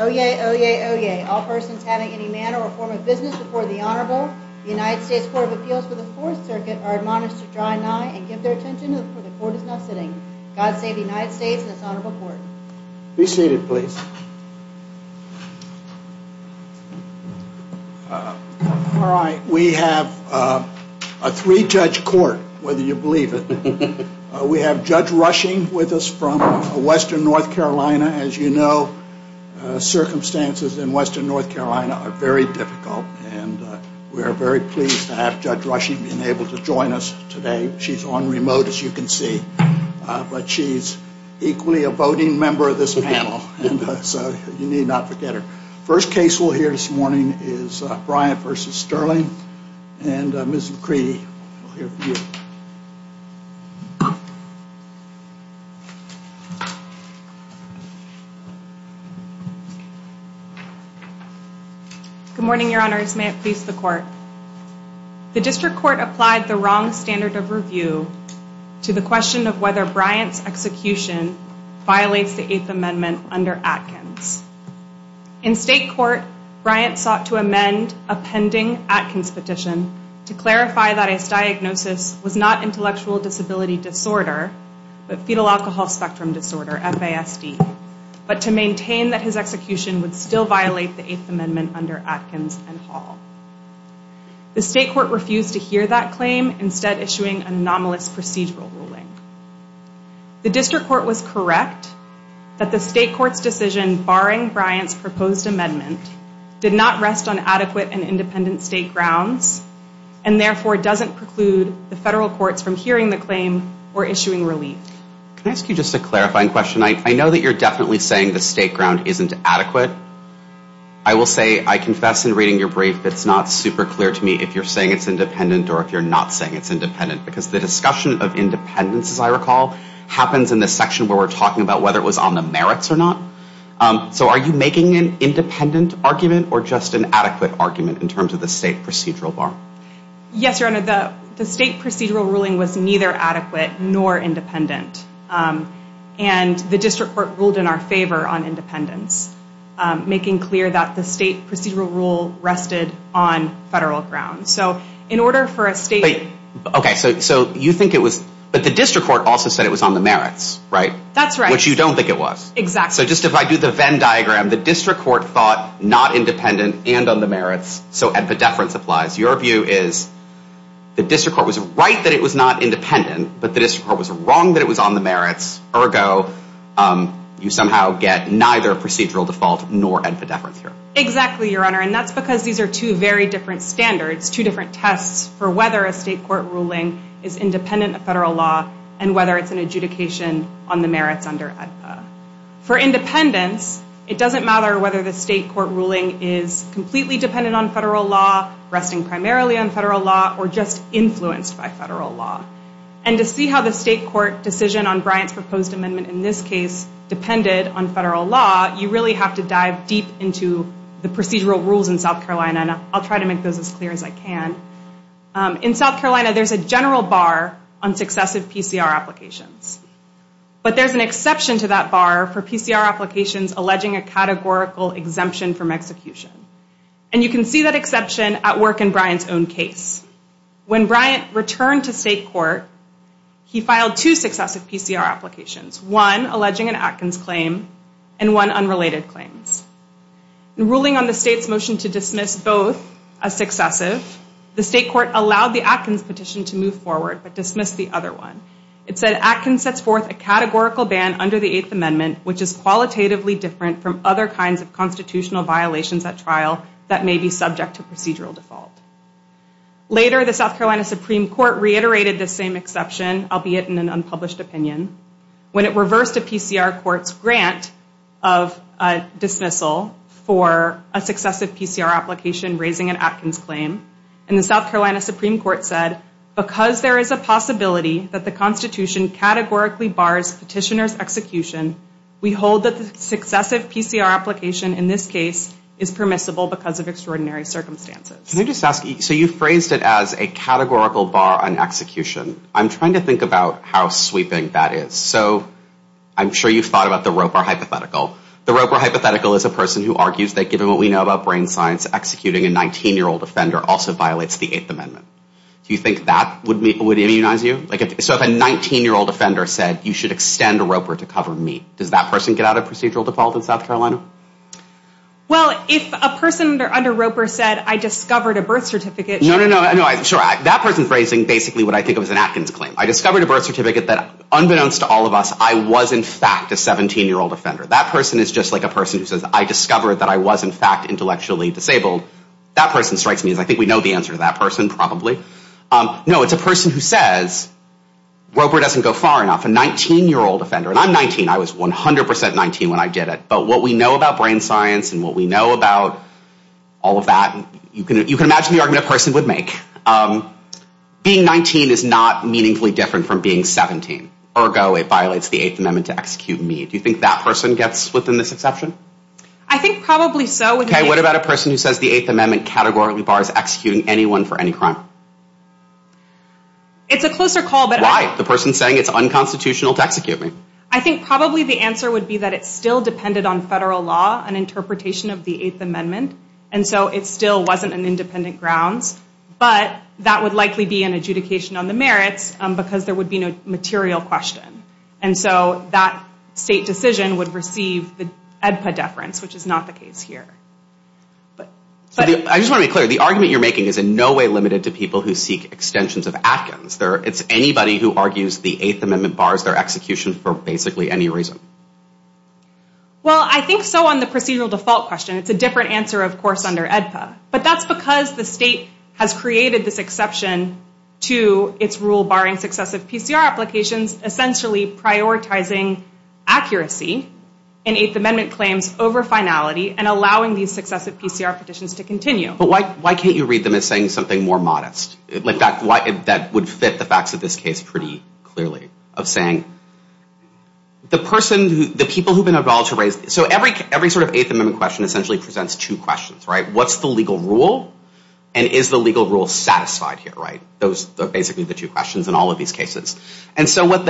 Oyez, oyez, oyez. All persons having any manner or form of business before the Honorable United States Court of Appeals for the Fourth Circuit are admonished to draw an eye and give their attention before the Court is now sitting. God save the United States and this Honorable Court. Be seated, please. All right. We have a three-judge court, whether you believe it. We have Judge Rushing with us from Western North Carolina. As you know, circumstances in Western North Carolina are very difficult, and we are very pleased to have Judge Rushing being able to join us today. She's on remote, as you can see, but she's equally a voting member of this panel. And so you need not forget her. First case we'll hear this morning is Bryant v. Stirling. And Ms. McCready, we'll hear from you. Good morning, Your Honors. May it please the Court. The District Court applied the wrong standard of review to the question of whether Bryant's execution violates the Eighth Amendment under Atkins. In State Court, Bryant sought to amend a pending Atkins petition to clarify that his diagnosis was not intellectual disability disorder, but fetal alcohol spectrum disorder, FASD, but to maintain that his execution would still violate the Eighth Amendment under Atkins and Hall. The State Court refused to hear that claim, instead issuing an anomalous procedural ruling. The District Court was correct that the State Court's decision barring Bryant's proposed amendment did not rest on adequate and independent State grounds, and therefore doesn't preclude the federal courts from hearing the claim or issuing relief. Can I ask you just a clarifying question? I know that you're definitely saying the State ground isn't adequate. I will say, I confess in reading your brief, it's not super clear to me if you're saying it's independent or if you're not saying it's independent, because the discussion of independence, as I recall, happens in the section where we're talking about whether it was on the merits or not. So are you making an independent argument or just an adequate argument in terms of the State procedural bar? Yes, Your Honor, the State procedural ruling was neither adequate nor independent, and the District Court ruled in our favor on independence, making clear that the State procedural rule rested on federal grounds. But the District Court also said it was on the merits, right? That's right. Which you don't think it was. Exactly. So just if I do the Venn diagram, the District Court thought not independent and on the merits, so epidephrine applies. Your view is the District Court was right that it was not independent, but the District Court was wrong that it was on the merits. Ergo, you somehow get neither procedural default nor epidephrine here. Exactly, Your Honor, and that's because these are two very different standards, two different tests for whether a State court ruling is independent of federal law and whether it's an adjudication on the merits under AEDPA. For independence, it doesn't matter whether the State court ruling is completely dependent on federal law, resting primarily on federal law, or just influenced by federal law. And to see how the State court decision on Bryant's proposed amendment in this case depended on federal law, you really have to dive deep into the procedural rules in South Carolina, and I'll try to make those as clear as I can. In South Carolina, there's a general bar on successive PCR applications, but there's an exception to that bar for PCR applications alleging a categorical exemption from execution. And you can see that exception at work in Bryant's own case. When Bryant returned to State court, he filed two successive PCR applications, one alleging an Atkins claim and one unrelated claims. In ruling on the State's motion to dismiss both as successive, the State court allowed the Atkins petition to move forward, but dismissed the other one. It said Atkins sets forth a categorical ban under the Eighth Amendment, which is qualitatively different from other kinds of constitutional violations at trial that may be subject to procedural default. Later, the South Carolina Supreme Court reiterated the same exception, albeit in an unpublished opinion, when it reversed a PCR court's grant of dismissal for a successive PCR application raising an Atkins claim. And the South Carolina Supreme Court said, because there is a possibility that the Constitution categorically bars petitioner's execution, we hold that the successive PCR application in this case is permissible because of extraordinary circumstances. Can I just ask, so you phrased it as a categorical bar on execution. I'm trying to think about how sweeping that is. So I'm sure you've thought about the Roper hypothetical. The Roper hypothetical is a person who argues that given what we know about brain science, executing a 19-year-old offender also violates the Eighth Amendment. Do you think that would immunize you? So if a 19-year-old offender said, you should extend Roper to cover me, does that person get out of procedural default in South Carolina? Well, if a person under Roper said, I discovered a birth certificate. No, no, no. That person's raising basically what I think of as an Atkins claim. I discovered a birth certificate that unbeknownst to all of us, I was in fact a 17-year-old offender. That person is just like a person who says, I discovered that I was in fact intellectually disabled. That person strikes me as I think we know the answer to that person probably. No, it's a person who says, Roper doesn't go far enough. A 19-year-old offender. And I'm 19. I was 100 percent 19 when I did it. But what we know about brain science and what we know about all of that, you can imagine the argument a person would make. Being 19 is not meaningfully different from being 17. Ergo, it violates the Eighth Amendment to execute me. Do you think that person gets within this exception? I think probably so. Okay, what about a person who says the Eighth Amendment categorically bars executing anyone for any crime? It's a closer call. Why? The person's saying it's unconstitutional to execute me. I think probably the answer would be that it still depended on federal law and interpretation of the Eighth Amendment. And so it still wasn't an independent grounds. But that would likely be an adjudication on the merits because there would be no material question. And so that state decision would receive the EDPA deference, which is not the case here. I just want to be clear. The argument you're making is in no way limited to people who seek extensions of Atkins. It's anybody who argues the Eighth Amendment bars their execution for basically any reason. Well, I think so on the procedural default question. It's a different answer, of course, under EDPA. But that's because the state has created this exception to its rule barring successive PCR applications, essentially prioritizing accuracy in Eighth Amendment claims over finality and allowing these successive PCR petitions to continue. But why can't you read them as saying something more modest? That would fit the facts of this case pretty clearly of saying the person, the people who have been involved. So every sort of Eighth Amendment question essentially presents two questions, right? What's the legal rule? And is the legal rule satisfied here, right? Those are basically the two questions in all of these cases. And so what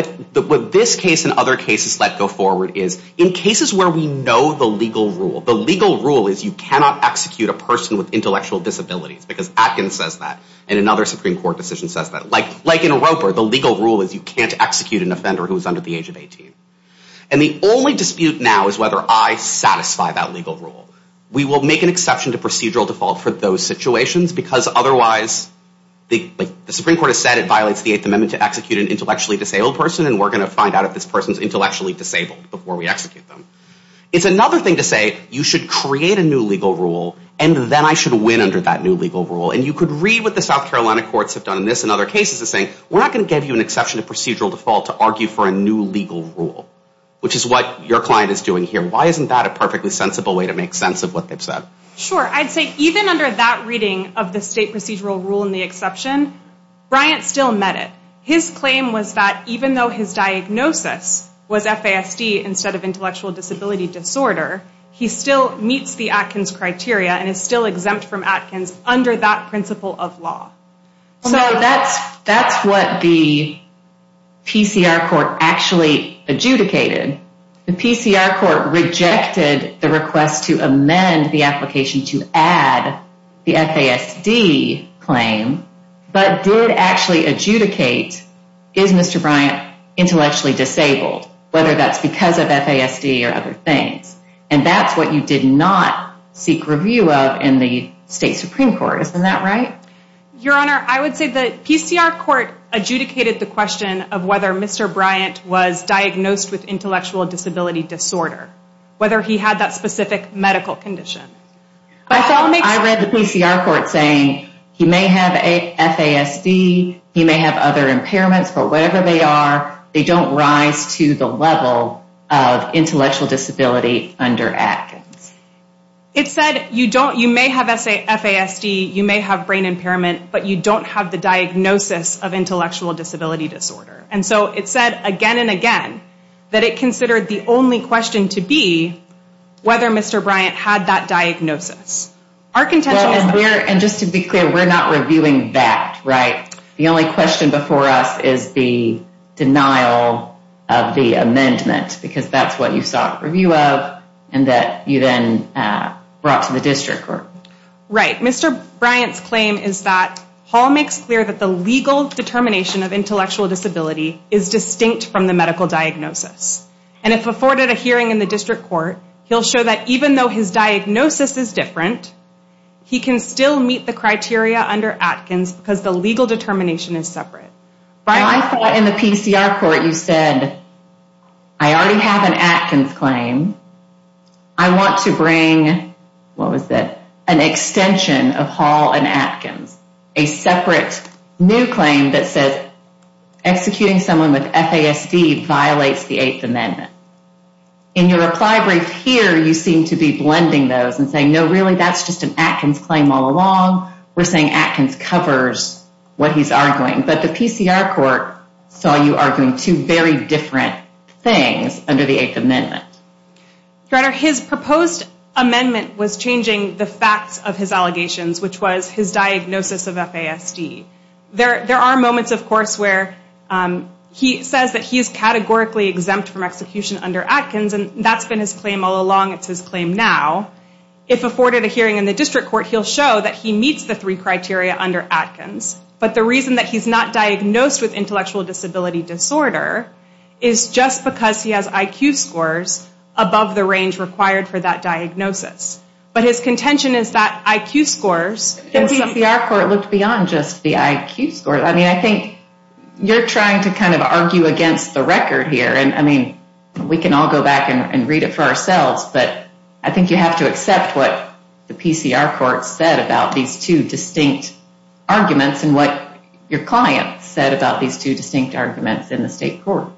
this case and other cases let go forward is in cases where we know the legal rule, the legal rule is you cannot execute a person with intellectual disabilities because Atkins says that. And another Supreme Court decision says that. Like in Roper, the legal rule is you can't execute an offender who is under the age of 18. And the only dispute now is whether I satisfy that legal rule. We will make an exception to procedural default for those situations because otherwise the Supreme Court has said it violates the Eighth Amendment to execute an intellectually disabled person, and we're going to find out if this person is intellectually disabled before we execute them. It's another thing to say you should create a new legal rule, and then I should win under that new legal rule. And you could read what the South Carolina courts have done in this and other cases as saying we're not going to give you an exception to procedural default to argue for a new legal rule, which is what your client is doing here. Why isn't that a perfectly sensible way to make sense of what they've said? Sure. I'd say even under that reading of the state procedural rule and the exception, Bryant still met it. His claim was that even though his diagnosis was FASD instead of intellectual disability disorder, he still meets the Atkins criteria and is still exempt from Atkins under that principle of law. So that's what the PCR court actually adjudicated. The PCR court rejected the request to amend the application to add the FASD claim, but did actually adjudicate, is Mr. Bryant intellectually disabled, whether that's because of FASD or other things. And that's what you did not seek review of in the state Supreme Court. Isn't that right? Your Honor, I would say the PCR court adjudicated the question of whether Mr. Bryant was diagnosed with intellectual disability disorder, whether he had that specific medical condition. I read the PCR court saying he may have FASD, he may have other impairments, but whatever they are, they don't rise to the level of intellectual disability under Atkins. It said you may have FASD, you may have brain impairment, but you don't have the diagnosis of intellectual disability disorder. And so it said again and again that it considered the only question to be whether Mr. Bryant had that diagnosis. And just to be clear, we're not reviewing that, right? The only question before us is the denial of the amendment, because that's what you sought review of and that you then brought to the district court. Right. Mr. Bryant's claim is that Hall makes clear that the legal determination of intellectual disability is distinct from the medical diagnosis. And if afforded a hearing in the district court, he'll show that even though his diagnosis is different, he can still meet the criteria under Atkins because the legal determination is separate. I thought in the PCR court you said, I already have an Atkins claim. I want to bring, what was that, an extension of Hall and Atkins, a separate new claim that says executing someone with FASD violates the Eighth Amendment. In your reply brief here, you seem to be blending those and saying, no, really, that's just an Atkins claim all along. We're saying Atkins covers what he's arguing. But the PCR court saw you arguing two very different things under the Eighth Amendment. Your Honor, his proposed amendment was changing the facts of his allegations, which was his diagnosis of FASD. There are moments, of course, where he says that he's categorically exempt from execution under Atkins. And that's been his claim all along. It's his claim now. If afforded a hearing in the district court, he'll show that he meets the three criteria under Atkins. But the reason that he's not diagnosed with intellectual disability disorder is just because he has IQ scores above the range required for that diagnosis. But his contention is that IQ scores The PCR court looked beyond just the IQ scores. I mean, I think you're trying to kind of argue against the record here. And I mean, we can all go back and read it for ourselves. But I think you have to accept what the PCR court said about these two distinct arguments and what your client said about these two distinct arguments in the state court.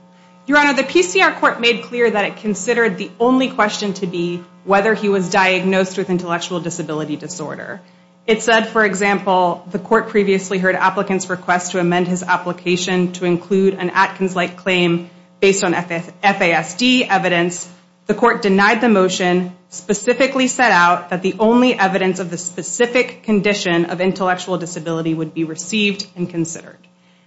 Your Honor, the PCR court made clear that it considered the only question to be whether he was diagnosed with intellectual disability disorder. It said, for example, the court previously heard applicants request to amend his application to include an Atkins-like claim based on FASD evidence. The court denied the motion, specifically set out that the only evidence of the specific condition of intellectual disability would be received and considered.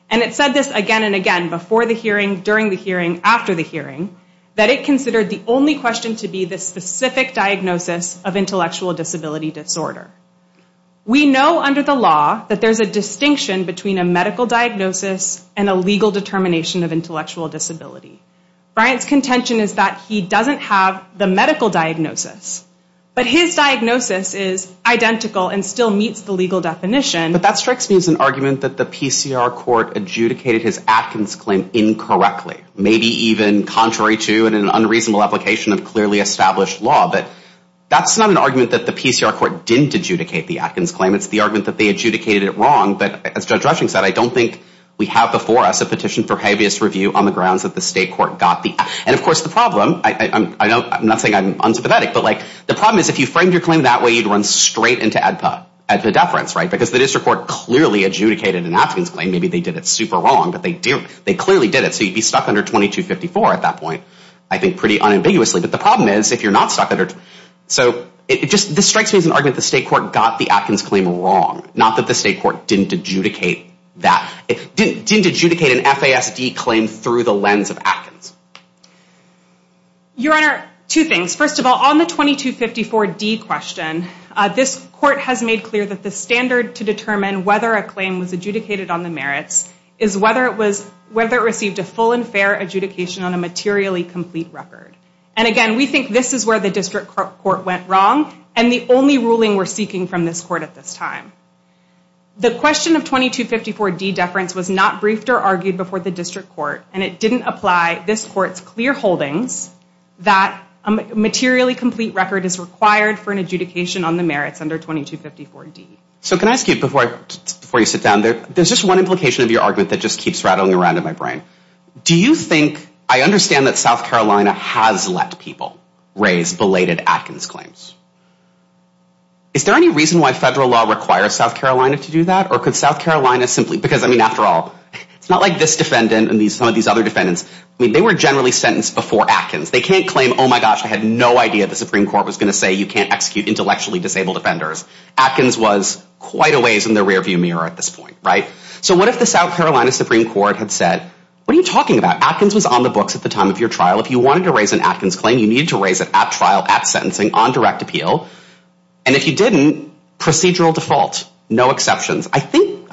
And it said this again and again before the hearing, during the hearing, after the hearing, that it considered the only question to be the specific diagnosis of intellectual disability disorder. We know under the law that there's a distinction between a medical diagnosis and a legal determination of intellectual disability. Bryant's contention is that he doesn't have the medical diagnosis. But his diagnosis is identical and still meets the legal definition. But that strikes me as an argument that the PCR court adjudicated his Atkins claim incorrectly. Maybe even contrary to and an unreasonable application of clearly established law. But that's not an argument that the PCR court didn't adjudicate the Atkins claim. It's the argument that they adjudicated it wrong. But as Judge Rushing said, I don't think we have before us a petition for habeas review on the grounds that the state court got the Atkins claim. And, of course, the problem, I'm not saying I'm unsympathetic, but the problem is if you framed your claim that way, you'd run straight into AEDPA, AEDPA deference, right, because the district court clearly adjudicated an Atkins claim. Maybe they did it super wrong, but they clearly did it. So you'd be stuck under 2254 at that point, I think pretty unambiguously. But the problem is if you're not stuck under, so it just, this strikes me as an argument that the state court got the Atkins claim wrong. Not that the state court didn't adjudicate that, didn't adjudicate an FASD claim through the lens of Atkins. Your Honor, two things. First of all, on the 2254D question, this court has made clear that the standard to determine whether a claim was adjudicated on the merits is whether it was, whether it received a full and fair adjudication on a materially complete record. And, again, we think this is where the district court went wrong, and the only ruling we're seeking from this court at this time. The question of 2254D deference was not briefed or argued before the district court, and it didn't apply this court's clear holdings that a materially complete record is required for an adjudication on the merits under 2254D. So can I ask you, before you sit down, there's just one implication of your argument that just keeps rattling around in my brain. Do you think, I understand that South Carolina has let people raise belated Atkins claims. Is there any reason why federal law requires South Carolina to do that, or could South Carolina simply, because, I mean, after all, it's not like this defendant and some of these other defendants, I mean, they were generally sentenced before Atkins. They can't claim, oh, my gosh, I had no idea the Supreme Court was going to say you can't execute intellectually disabled offenders. Atkins was quite a ways in the rearview mirror at this point, right? So what if the South Carolina Supreme Court had said, what are you talking about? Atkins was on the books at the time of your trial. If you wanted to raise an Atkins claim, you needed to raise it at trial, at sentencing, on direct appeal. And if you didn't, procedural default, no exceptions. I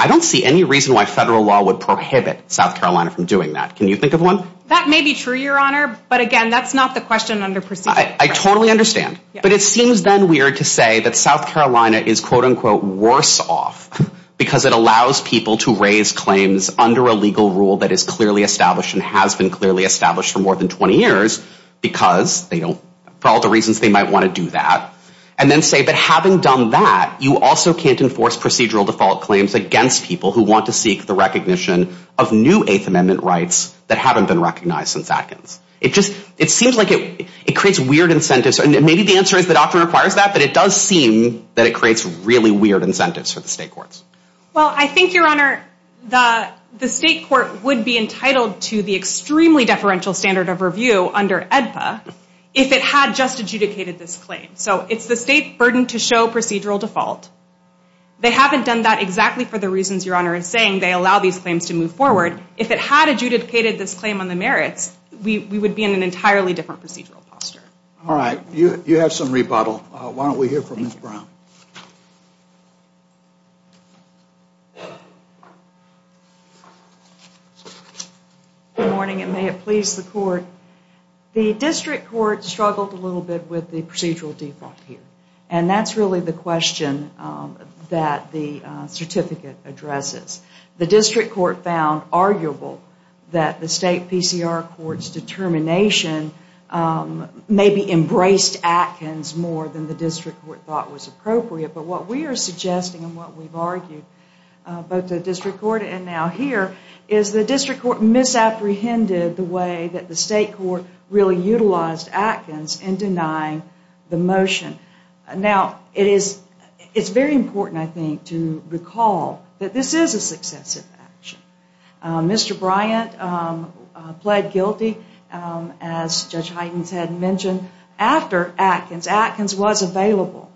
don't see any reason why federal law would prohibit South Carolina from doing that. Can you think of one? That may be true, Your Honor, but, again, that's not the question under procedure. I totally understand. But it seems then weird to say that South Carolina is, quote, unquote, worse off because it allows people to raise claims under a legal rule that is clearly established and has been clearly established for more than 20 years because they don't, for all the reasons they might want to do that, and then say, but having done that, you also can't enforce procedural default claims against people who want to seek the recognition of new Eighth Amendment rights that haven't been recognized since Atkins. It just, it seems like it creates weird incentives. Maybe the answer is the doctrine requires that, but it does seem that it creates really weird incentives for the state courts. Well, I think, Your Honor, the state court would be entitled to the extremely deferential standard of review under AEDPA if it had just adjudicated this claim. So it's the state burden to show procedural default. They haven't done that exactly for the reasons Your Honor is saying. They allow these claims to move forward. If it had adjudicated this claim on the merits, we would be in an entirely different procedural posture. All right. You have some rebuttal. Why don't we hear from Ms. Brown? Good morning, and may it please the court. The district court struggled a little bit with the procedural default here, and that's really the question that the certificate addresses. The district court found arguable that the state PCR court's determination maybe embraced Atkins more than the district court thought was appropriate. But what we are suggesting and what we've argued, both the district court and now here, is the district court misapprehended the way that the state court really utilized Atkins in denying the motion. Now, it's very important, I think, to recall that this is a successive action. Mr. Bryant pled guilty, as Judge Huygens had mentioned, after Atkins. Atkins was available.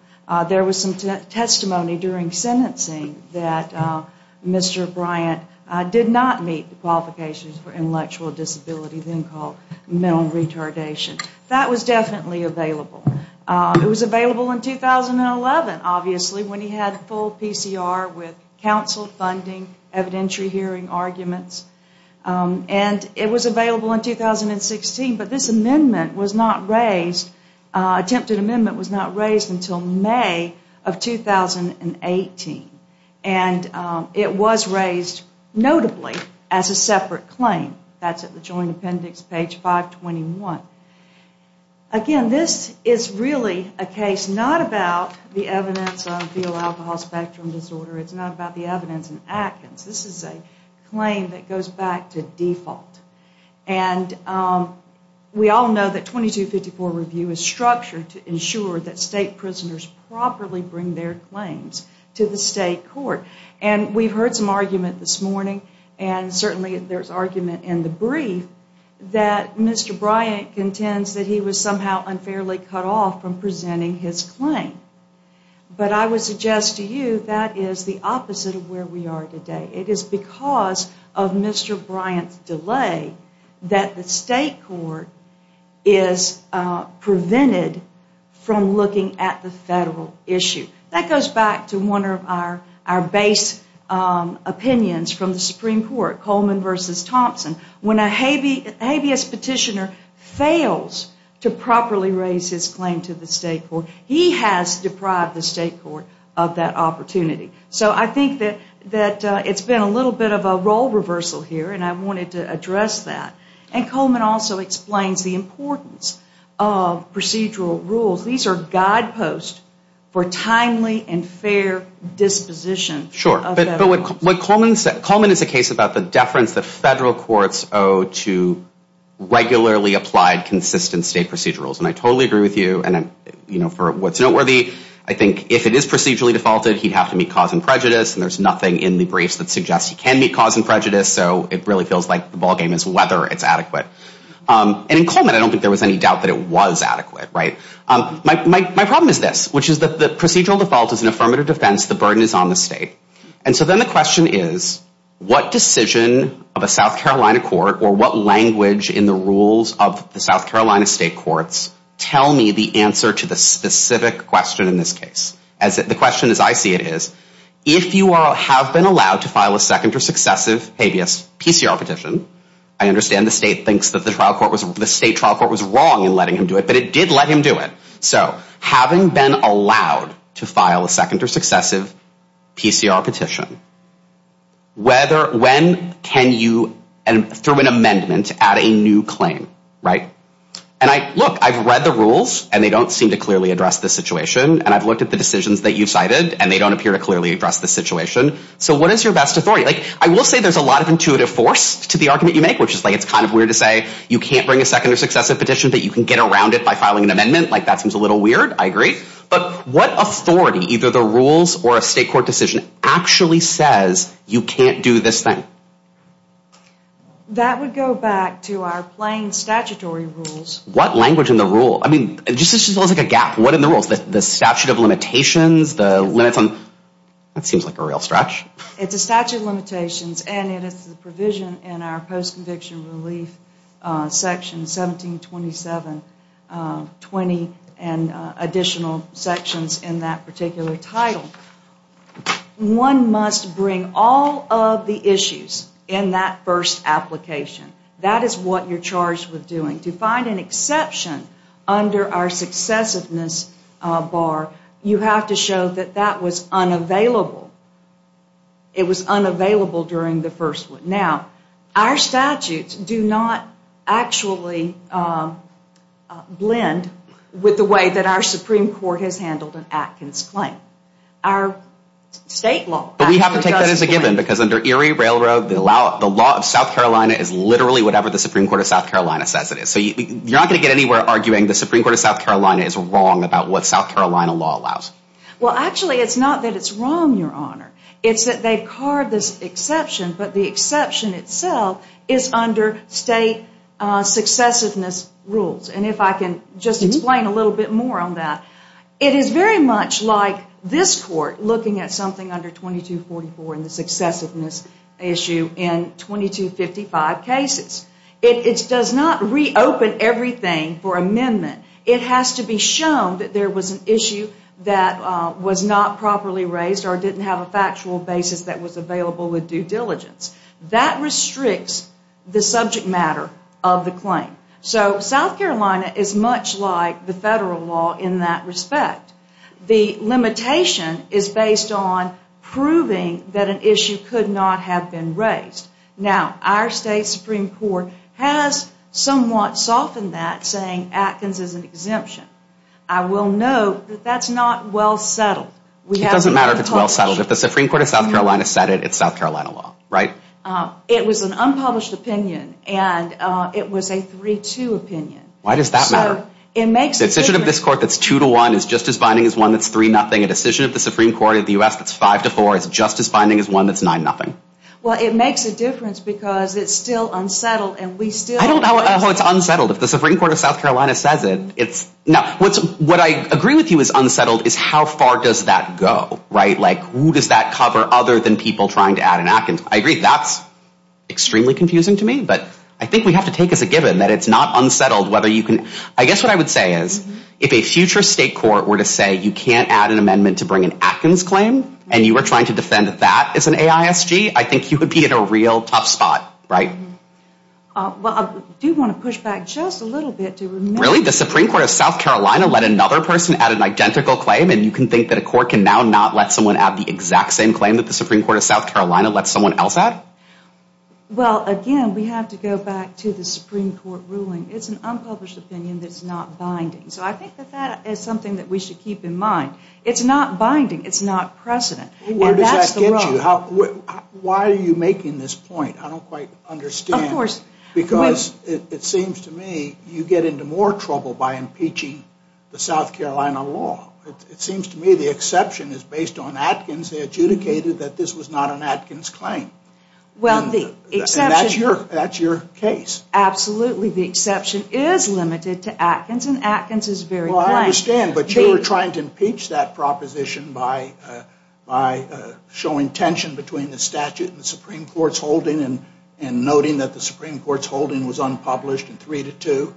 There was some testimony during sentencing that Mr. Bryant did not meet the qualifications for intellectual disability, then called mental retardation. That was definitely available. It was available in 2011, obviously, when he had full PCR with counsel, funding, evidentiary hearing arguments. And it was available in 2016, but this amendment was not raised, attempted amendment was not raised until May of 2018. And it was raised, notably, as a separate claim. That's at the Joint Appendix, page 521. Again, this is really a case not about the evidence on fetal alcohol spectrum disorder. It's not about the evidence in Atkins. This is a claim that goes back to default. And we all know that 2254 review is structured to ensure that state prisoners properly bring their claims to the state court. And we've heard some argument this morning, and certainly there's argument in the brief, that Mr. Bryant contends that he was somehow unfairly cut off from presenting his claim. But I would suggest to you that is the opposite of where we are today. It is because of Mr. Bryant's delay that the state court is prevented from looking at the federal issue. That goes back to one of our base opinions from the Supreme Court, Coleman v. Thompson. When a habeas petitioner fails to properly raise his claim to the state court, he has deprived the state court of that opportunity. So I think that it's been a little bit of a role reversal here, and I wanted to address that. And Coleman also explains the importance of procedural rules. These are guideposts for timely and fair disposition. Sure, but Coleman is a case about the deference that federal courts owe to regularly applied consistent state procedural rules. And I totally agree with you, and for what's noteworthy, I think if it is procedurally defaulted, he'd have to meet cause and prejudice, and there's nothing in the briefs that suggests he can meet cause and prejudice, so it really feels like the ballgame is whether it's adequate. And in Coleman, I don't think there was any doubt that it was adequate. My problem is this, which is that the procedural default is an affirmative defense, the burden is on the state. And so then the question is, what decision of a South Carolina court or what language in the rules of the South Carolina state courts tell me the answer to the specific question in this case? The question as I see it is, if you have been allowed to file a second or successive habeas PCR petition, I understand the state thinks that the state trial court was wrong in letting him do it, but it did let him do it. So having been allowed to file a second or successive PCR petition, when can you, through an amendment, add a new claim? And look, I've read the rules, and they don't seem to clearly address this situation, and I've looked at the decisions that you've cited, and they don't appear to clearly address this situation. So what is your best authority? I will say there's a lot of intuitive force to the argument you make, which is like it's kind of weird to say you can't bring a second or successive petition, but you can get around it by filing an amendment, like that seems a little weird. I agree. But what authority, either the rules or a state court decision, actually says you can't do this thing? That would go back to our plain statutory rules. What language in the rule? I mean, it just feels like a gap. What in the rules? The statute of limitations? The limits on? That seems like a real stretch. It's a statute of limitations, and it is the provision in our post-conviction relief section 1727.20 and additional sections in that particular title. One must bring all of the issues in that first application. That is what you're charged with doing. To find an exception under our successiveness bar, you have to show that that was unavailable. It was unavailable during the first one. Now, our statutes do not actually blend with the way that our Supreme Court has handled an Atkins claim. Our state law actually does. But we have to take that as a given, because under Erie Railroad, the law of South Carolina is literally whatever the Supreme Court of South Carolina says it is. So you're not going to get anywhere arguing the Supreme Court of South Carolina is wrong about what South Carolina law allows. Well, actually, it's not that it's wrong, Your Honor. It's that they've carved this exception, but the exception itself is under state successiveness rules. And if I can just explain a little bit more on that. It is very much like this Court looking at something under 2244 in the successiveness issue in 2255 cases. It does not reopen everything for amendment. It has to be shown that there was an issue that was not properly raised or didn't have a factual basis that was available with due diligence. That restricts the subject matter of the claim. So South Carolina is much like the federal law in that respect. The limitation is based on proving that an issue could not have been raised. Now, our state Supreme Court has somewhat softened that, saying Atkins is an exemption. I will note that that's not well settled. It doesn't matter if it's well settled. If the Supreme Court of South Carolina said it, it's South Carolina law, right? It was an unpublished opinion, and it was a 3-2 opinion. Why does that matter? A decision of this Court that's 2-1 is just as binding as one that's 3-0. A decision of the Supreme Court of the U.S. that's 5-4 is just as binding as one that's 9-0. Well, it makes a difference because it's still unsettled, and we still... I don't know how it's unsettled. If the Supreme Court of South Carolina says it, it's... What I agree with you is unsettled is how far does that go, right? Who does that cover other than people trying to add an Atkins? I agree that's extremely confusing to me, but I think we have to take as a given that it's not unsettled whether you can... I guess what I would say is if a future state court were to say you can't add an amendment to bring an Atkins claim, and you were trying to defend that as an AISG, I think you would be in a real tough spot, right? Well, I do want to push back just a little bit to remember... Does the Supreme Court of South Carolina let another person add an identical claim, and you can think that a court can now not let someone add the exact same claim that the Supreme Court of South Carolina lets someone else add? Well, again, we have to go back to the Supreme Court ruling. It's an unpublished opinion that's not binding. So I think that that is something that we should keep in mind. It's not binding. It's not precedent. Where does that get you? Why are you making this point? I don't quite understand. Of course. Because it seems to me you get into more trouble by impeaching the South Carolina law. It seems to me the exception is based on Atkins. They adjudicated that this was not an Atkins claim. Well, the exception... And that's your case. Absolutely, the exception is limited to Atkins, and Atkins is very... Well, I understand, but you were trying to impeach that proposition by showing tension between the statute and the Supreme Court's holding and noting that the Supreme Court's holding was unpublished in 3-2.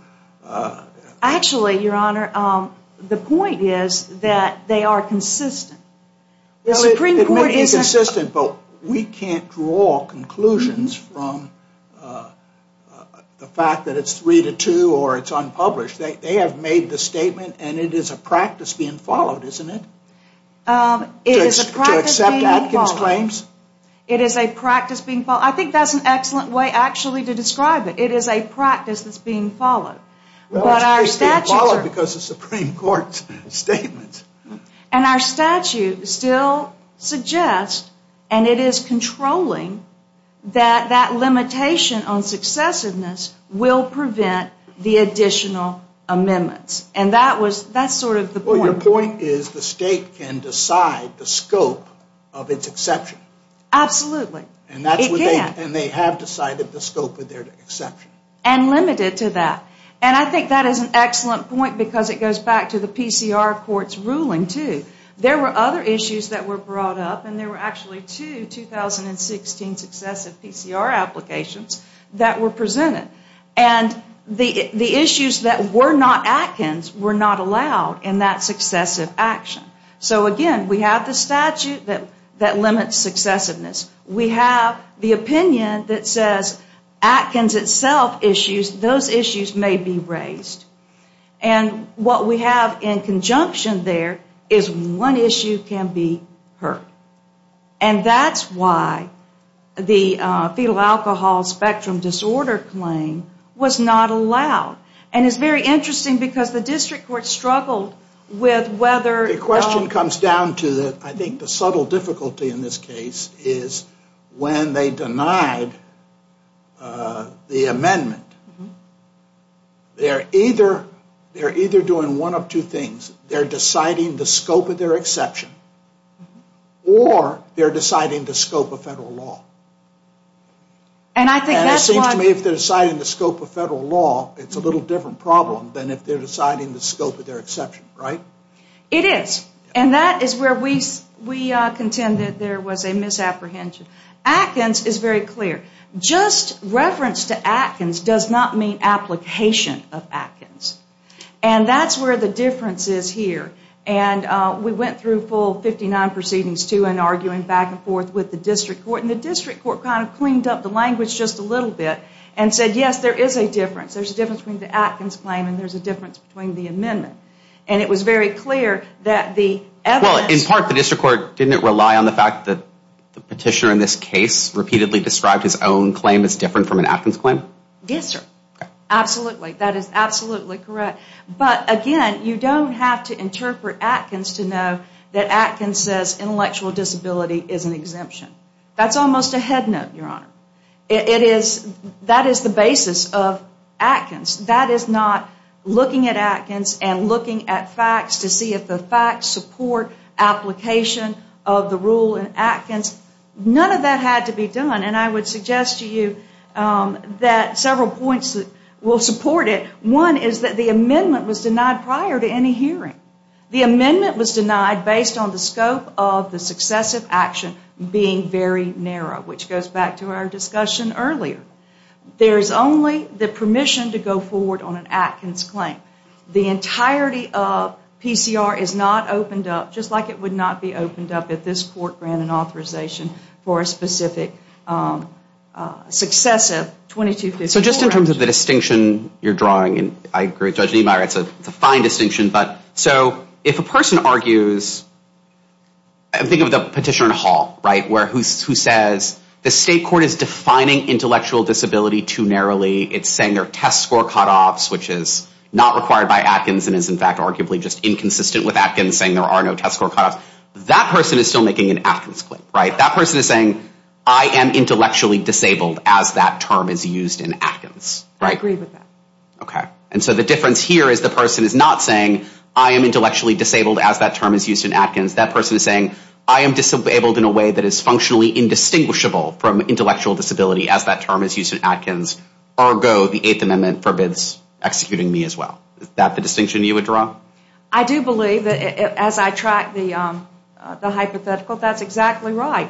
Actually, Your Honor, the point is that they are consistent. Well, it may be consistent, but we can't draw conclusions from the fact that it's 3-2 or it's unpublished. They have made the statement, and it is a practice being followed, isn't it? It is a practice being followed. To accept Atkins claims. It is a practice being followed. I think that's an excellent way, actually, to describe it. It is a practice that's being followed. Well, it's being followed because of the Supreme Court's statements. And our statute still suggests, and it is controlling, that that limitation on successiveness will prevent the additional amendments. And that's sort of the point. The point is the state can decide the scope of its exception. Absolutely. It can. And they have decided the scope of their exception. And limited to that. And I think that is an excellent point because it goes back to the PCR court's ruling, too. There were other issues that were brought up, and there were actually two 2016 successive PCR applications that were presented. And the issues that were not Atkins were not allowed in that successive action. So, again, we have the statute that limits successiveness. We have the opinion that says Atkins itself issues, those issues may be raised. And what we have in conjunction there is one issue can be heard. And that's why the fetal alcohol spectrum disorder claim was not allowed. And it's very interesting because the district court struggled with whether... The question comes down to, I think, the subtle difficulty in this case is when they denied the amendment, they're either doing one of two things. They're deciding the scope of their exception or they're deciding the scope of federal law. And it seems to me if they're deciding the scope of federal law, it's a little different problem than if they're deciding the scope of their exception, right? It is. And that is where we contend that there was a misapprehension. Atkins is very clear. Just reference to Atkins does not mean application of Atkins. And that's where the difference is here. And we went through a full 59 proceedings, too, in arguing back and forth with the district court. And the district court kind of cleaned up the language just a little bit and said, yes, there is a difference. There's a difference between the Atkins claim and there's a difference between the amendment. And it was very clear that the evidence... Well, in part, the district court didn't rely on the fact that the petitioner in this case repeatedly described his own claim as different from an Atkins claim? Yes, sir. Absolutely. That is absolutely correct. But, again, you don't have to interpret Atkins to know that Atkins says intellectual disability is an exemption. That's almost a head note, Your Honor. That is the basis of Atkins. That is not looking at Atkins and looking at facts to see if the facts support application of the rule in Atkins. None of that had to be done. And I would suggest to you that several points will support it. One is that the amendment was denied prior to any hearing. The amendment was denied based on the scope of the successive action being very narrow, which goes back to our discussion earlier. There is only the permission to go forward on an Atkins claim. The entirety of PCR is not opened up, just like it would not be opened up if this court granted authorization for a specific successive 2254. So just in terms of the distinction you're drawing, and I agree with Judge Niemeyer, it's a fine distinction. So if a person argues, think of the petitioner in a hall, right, who says the state court is defining intellectual disability too narrowly. It's saying there are test score cutoffs, which is not required by Atkins and is, in fact, arguably just inconsistent with Atkins saying there are no test score cutoffs. That person is still making an Atkins claim, right? That person is saying, I am intellectually disabled as that term is used in Atkins, right? I agree with that. Okay. And so the difference here is the person is not saying, I am intellectually disabled as that term is used in Atkins. That person is saying, I am disabled in a way that is functionally indistinguishable from intellectual disability as that term is used in Atkins. Ergo, the Eighth Amendment forbids executing me as well. Is that the distinction you would draw? I do believe, as I track the hypothetical, that's exactly right.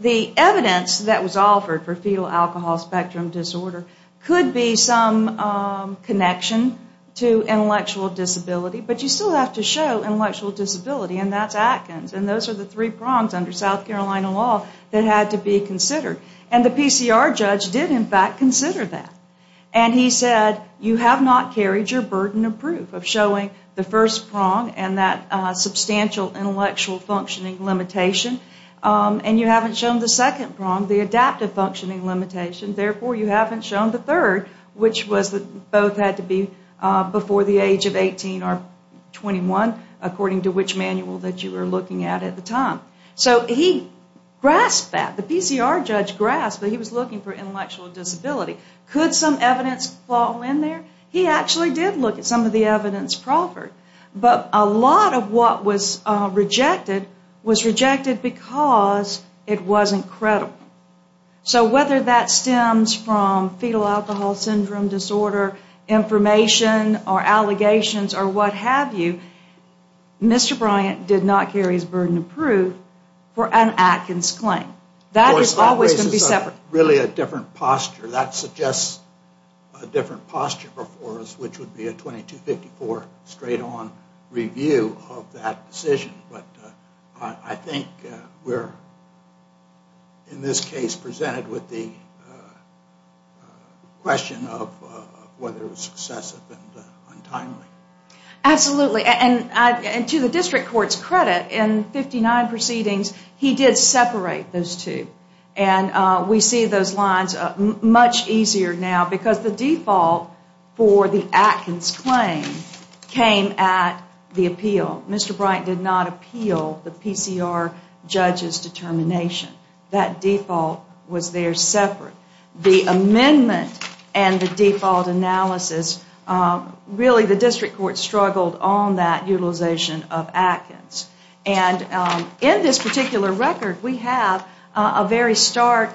The evidence that was offered for fetal alcohol spectrum disorder could be some connection to intellectual disability, but you still have to show intellectual disability, and that's Atkins. And those are the three prongs under South Carolina law that had to be considered. And the PCR judge did, in fact, consider that. And he said, you have not carried your burden of proof of showing the first prong and that substantial intellectual functioning limitation, and you haven't shown the second prong, the adaptive functioning limitation. Therefore, you haven't shown the third, which was that both had to be before the age of 18 or 21, according to which manual that you were looking at at the time. So he grasped that. The PCR judge grasped that he was looking for intellectual disability. Could some evidence fall in there? He actually did look at some of the evidence offered, but a lot of what was rejected was rejected because it wasn't credible. So whether that stems from fetal alcohol syndrome disorder information or allegations or what have you, Mr. Bryant did not carry his burden of proof for an Atkins claim. That is always going to be separate. But really a different posture. That suggests a different posture before us, which would be a 2254 straight-on review of that decision. But I think we're, in this case, presented with the question of whether it was successive and untimely. Absolutely. And to the district court's credit, in 59 proceedings, he did separate those two. And we see those lines much easier now because the default for the Atkins claim came at the appeal. Mr. Bryant did not appeal the PCR judge's determination. That default was there separate. The amendment and the default analysis, really the district court struggled on that utilization of Atkins. And in this particular record, we have a very stark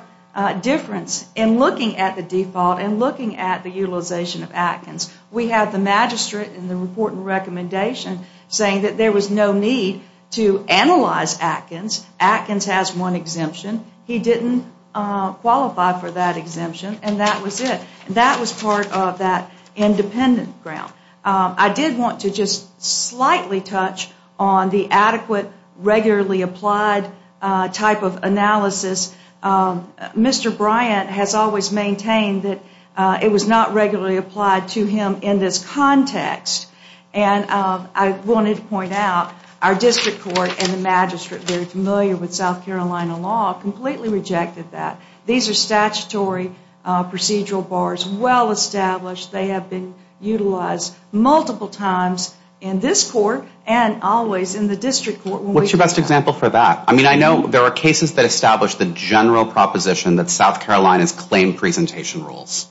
difference in looking at the default and looking at the utilization of Atkins. We have the magistrate in the report and recommendation saying that there was no need to analyze Atkins. Atkins has one exemption. He didn't qualify for that exemption, and that was it. That was part of that independent ground. I did want to just slightly touch on the adequate, regularly applied type of analysis. Mr. Bryant has always maintained that it was not regularly applied to him in this context. And I wanted to point out our district court and the magistrate, very familiar with South Carolina law, completely rejected that. These are statutory procedural bars, well-established. They have been utilized multiple times in this court and always in the district court. What's your best example for that? I mean, I know there are cases that establish the general proposition that South Carolina's claim presentation rules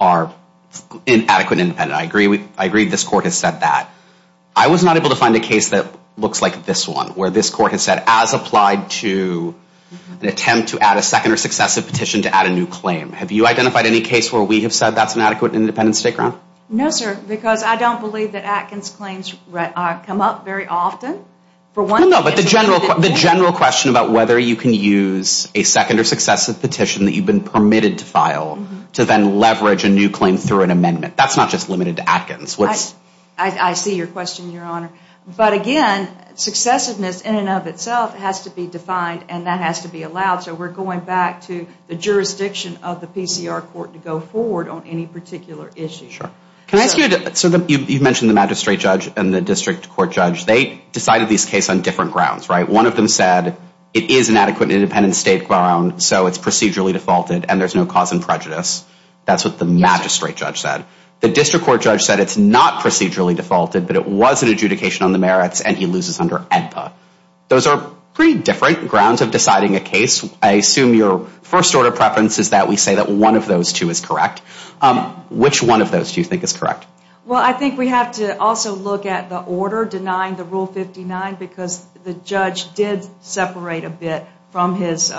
are inadequate and independent. I agree this court has said that. I was not able to find a case that looks like this one, where this court has said, as applied to an attempt to add a second or successive petition to add a new claim. Have you identified any case where we have said that's an adequate and independent state ground? No, sir, because I don't believe that Atkins claims come up very often. No, no, but the general question about whether you can use a second or successive petition that you've been permitted to file to then leverage a new claim through an amendment. That's not just limited to Atkins. I see your question, Your Honor. But again, successiveness in and of itself has to be defined, and that has to be allowed. So we're going back to the jurisdiction of the PCR court to go forward on any particular issue. Sure. Can I ask you, you mentioned the magistrate judge and the district court judge. They decided this case on different grounds, right? One of them said it is an adequate and independent state ground, so it's procedurally defaulted, and there's no cause in prejudice. That's what the magistrate judge said. The district court judge said it's not procedurally defaulted, but it was an adjudication on the merits, and he loses under AEDPA. Those are pretty different grounds of deciding a case. I assume your first order of preference is that we say that one of those two is correct. Which one of those do you think is correct? Well, I think we have to also look at the order denying the Rule 59 because the judge did separate a bit from his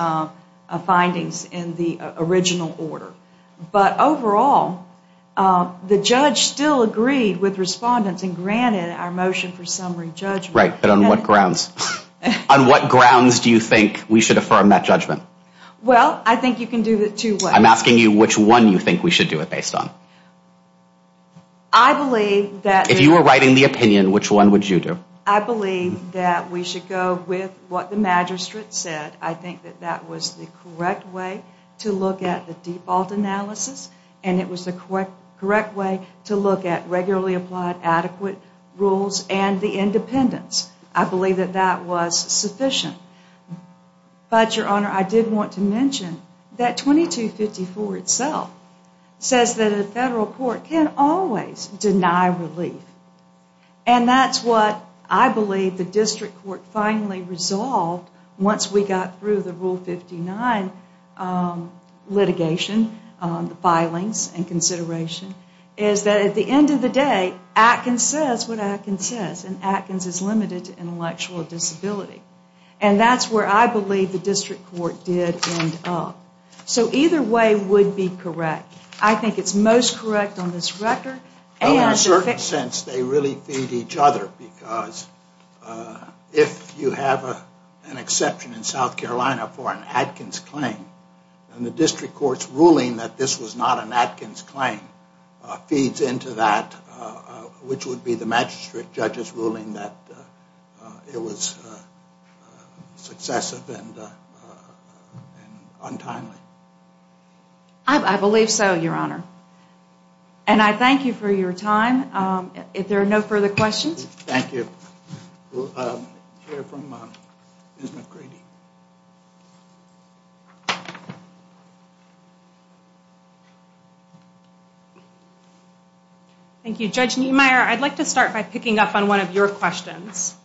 findings in the original order. But overall, the judge still agreed with respondents and granted our motion for summary judgment. Right, but on what grounds? On what grounds do you think we should affirm that judgment? Well, I think you can do it two ways. I'm asking you which one you think we should do it based on. I believe that... If you were writing the opinion, which one would you do? I believe that we should go with what the magistrate said. I think that that was the correct way to look at the default analysis, and it was the correct way to look at regularly applied adequate rules and the independence. I believe that that was sufficient. But, Your Honor, I did want to mention that 2254 itself says that a federal court can always deny relief. And that's what I believe the district court finally resolved once we got through the Rule 59 litigation, the filings and consideration, is that at the end of the day, Atkins says what Atkins says, and Atkins is limited to intellectual disability. And that's where I believe the district court did end up. So either way would be correct. I think it's most correct on this record. Well, in a certain sense, they really feed each other because if you have an exception in South Carolina for an Atkins claim, and the district court's ruling that this was not an Atkins claim feeds into that, which would be the magistrate judge's ruling that it was successive and untimely. I believe so, Your Honor. And I thank you for your time. If there are no further questions. Thank you. We'll hear from Ms. McGrady. Thank you, Judge Niemeyer. I'd like to start by picking up on one of your questions,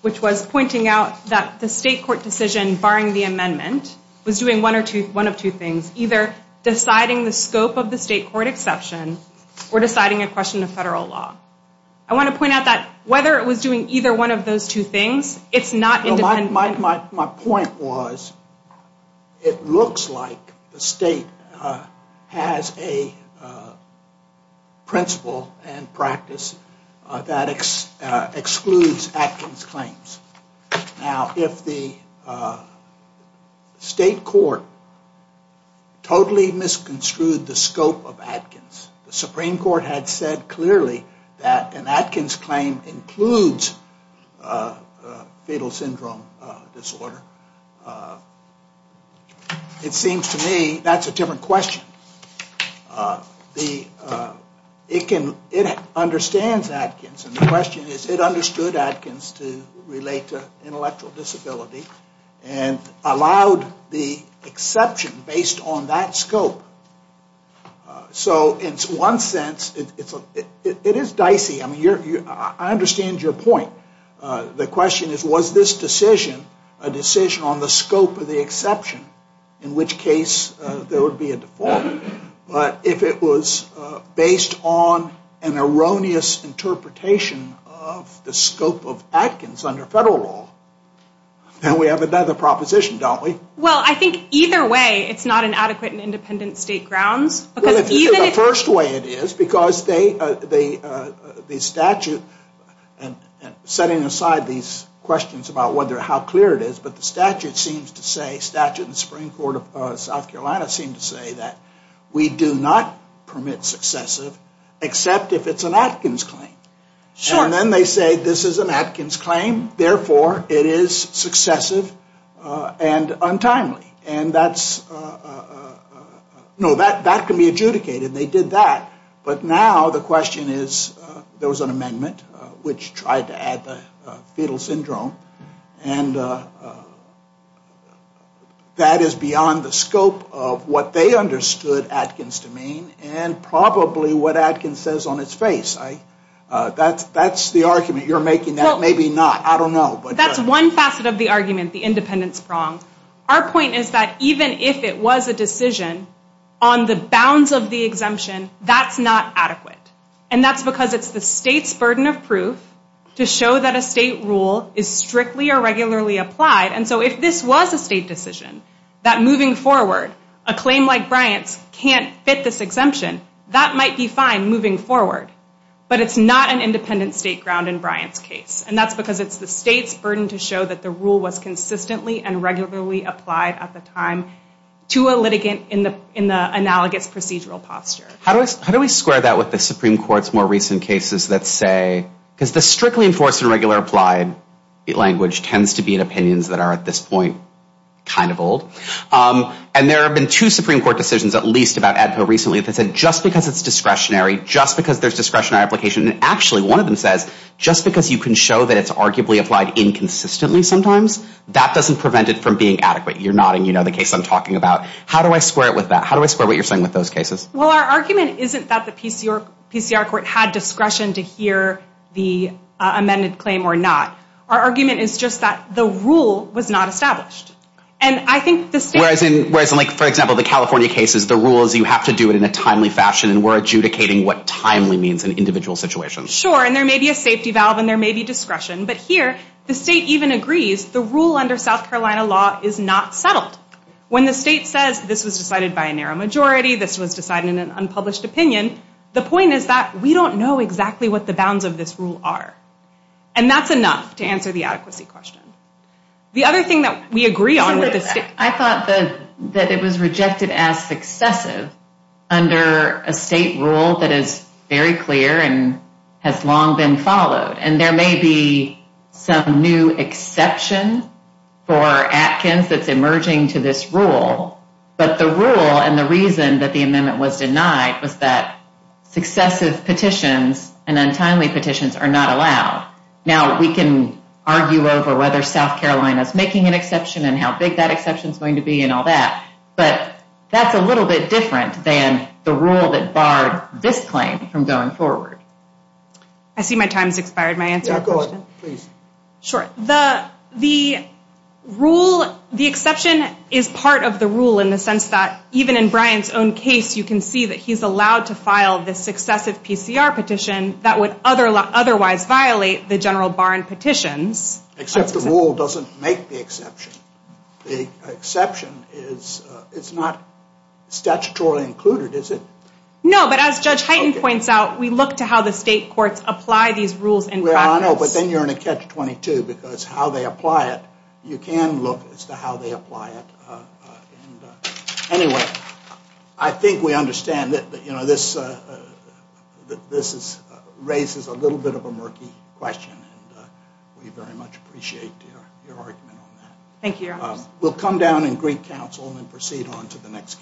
which was pointing out that the state court decision barring the amendment was doing one of two things, either deciding the scope of the state court exception or deciding a question of federal law. I want to point out that whether it was doing either one of those two things, it's not independent. My point was it looks like the state has a principle and practice that excludes Atkins claims. Now, if the state court totally misconstrued the scope of Atkins, the Supreme Court had said clearly that an Atkins claim includes fetal syndrome disorder. It seems to me that's a different question. It understands Atkins, and the question is, it understood Atkins to relate to intellectual disability and allowed the exception based on that scope. So in one sense, it is dicey. I understand your point. The question is, was this decision a decision on the scope of the exception, in which case there would be a default. But if it was based on an erroneous interpretation of the scope of Atkins under federal law, then we have another proposition, don't we? Well, I think either way it's not an adequate and independent state grounds. The first way it is, because the statute, and setting aside these questions about how clear it is, but the statute in the Supreme Court of South Carolina seems to say that we do not permit successive, except if it's an Atkins claim. And then they say this is an Atkins claim, and therefore it is successive and untimely. And that's, no, that can be adjudicated. They did that, but now the question is, there was an amendment which tried to add the fetal syndrome, and that is beyond the scope of what they understood Atkins to mean, and probably what Atkins says on its face. That's the argument you're making. Maybe not. I don't know. That's one facet of the argument, the independence prong. Our point is that even if it was a decision on the bounds of the exemption, that's not adequate. And that's because it's the state's burden of proof to show that a state rule is strictly or regularly applied. And so if this was a state decision, that moving forward a claim like Bryant's can't fit this exemption, that might be fine moving forward, but it's not an independent state ground in Bryant's case. And that's because it's the state's burden to show that the rule was consistently and regularly applied at the time to a litigant in the analogous procedural posture. How do we square that with the Supreme Court's more recent cases that say, because the strictly enforced and regularly applied language tends to be in opinions that are, at this point, kind of old. And there have been two Supreme Court decisions, at least about AEDPA recently, that said just because it's discretionary, just because there's discretionary application, and actually one of them says just because you can show that it's arguably applied inconsistently sometimes, that doesn't prevent it from being adequate. You're nodding, you know the case I'm talking about. How do I square it with that? How do I square what you're saying with those cases? Well, our argument isn't that the PCR court had discretion to hear the amended claim or not. Our argument is just that the rule was not established. Whereas in, for example, the California cases, the rule is you have to do it in a timely fashion and we're adjudicating what timely means in individual situations. Sure, and there may be a safety valve and there may be discretion, but here the state even agrees the rule under South Carolina law is not settled. When the state says this was decided by a narrow majority, this was decided in an unpublished opinion, the point is that we don't know exactly what the bounds of this rule are. And that's enough to answer the adequacy question. The other thing that we agree on with the state... I thought that it was rejected as successive under a state rule that is very clear and has long been followed. And there may be some new exception for Atkins that's emerging to this rule, but the rule and the reason that the amendment was denied was that successive petitions and untimely petitions are not allowed. Now we can argue over whether South Carolina is making an exception and how big that exception is going to be and all that, but that's a little bit different than the rule that barred this claim from going forward. I see my time has expired. May I answer your question? Yeah, go ahead, please. Sure. The rule, the exception is part of the rule in the sense that even in Brian's own case you can see that he's allowed to file this successive PCR petition that would otherwise violate the general bar in petitions. Except the rule doesn't make the exception. The exception is not statutorily included, is it? No, but as Judge Heighten points out, we look to how the state courts apply these rules in practice. Well, I know, but then you're in a catch-22 because how they apply it, you can look as to how they apply it. Anyway, I think we understand that this raises a little bit of a murky question, and we very much appreciate your argument on that. Thank you, Your Honor. We'll come down and greet counsel and proceed on to the next case.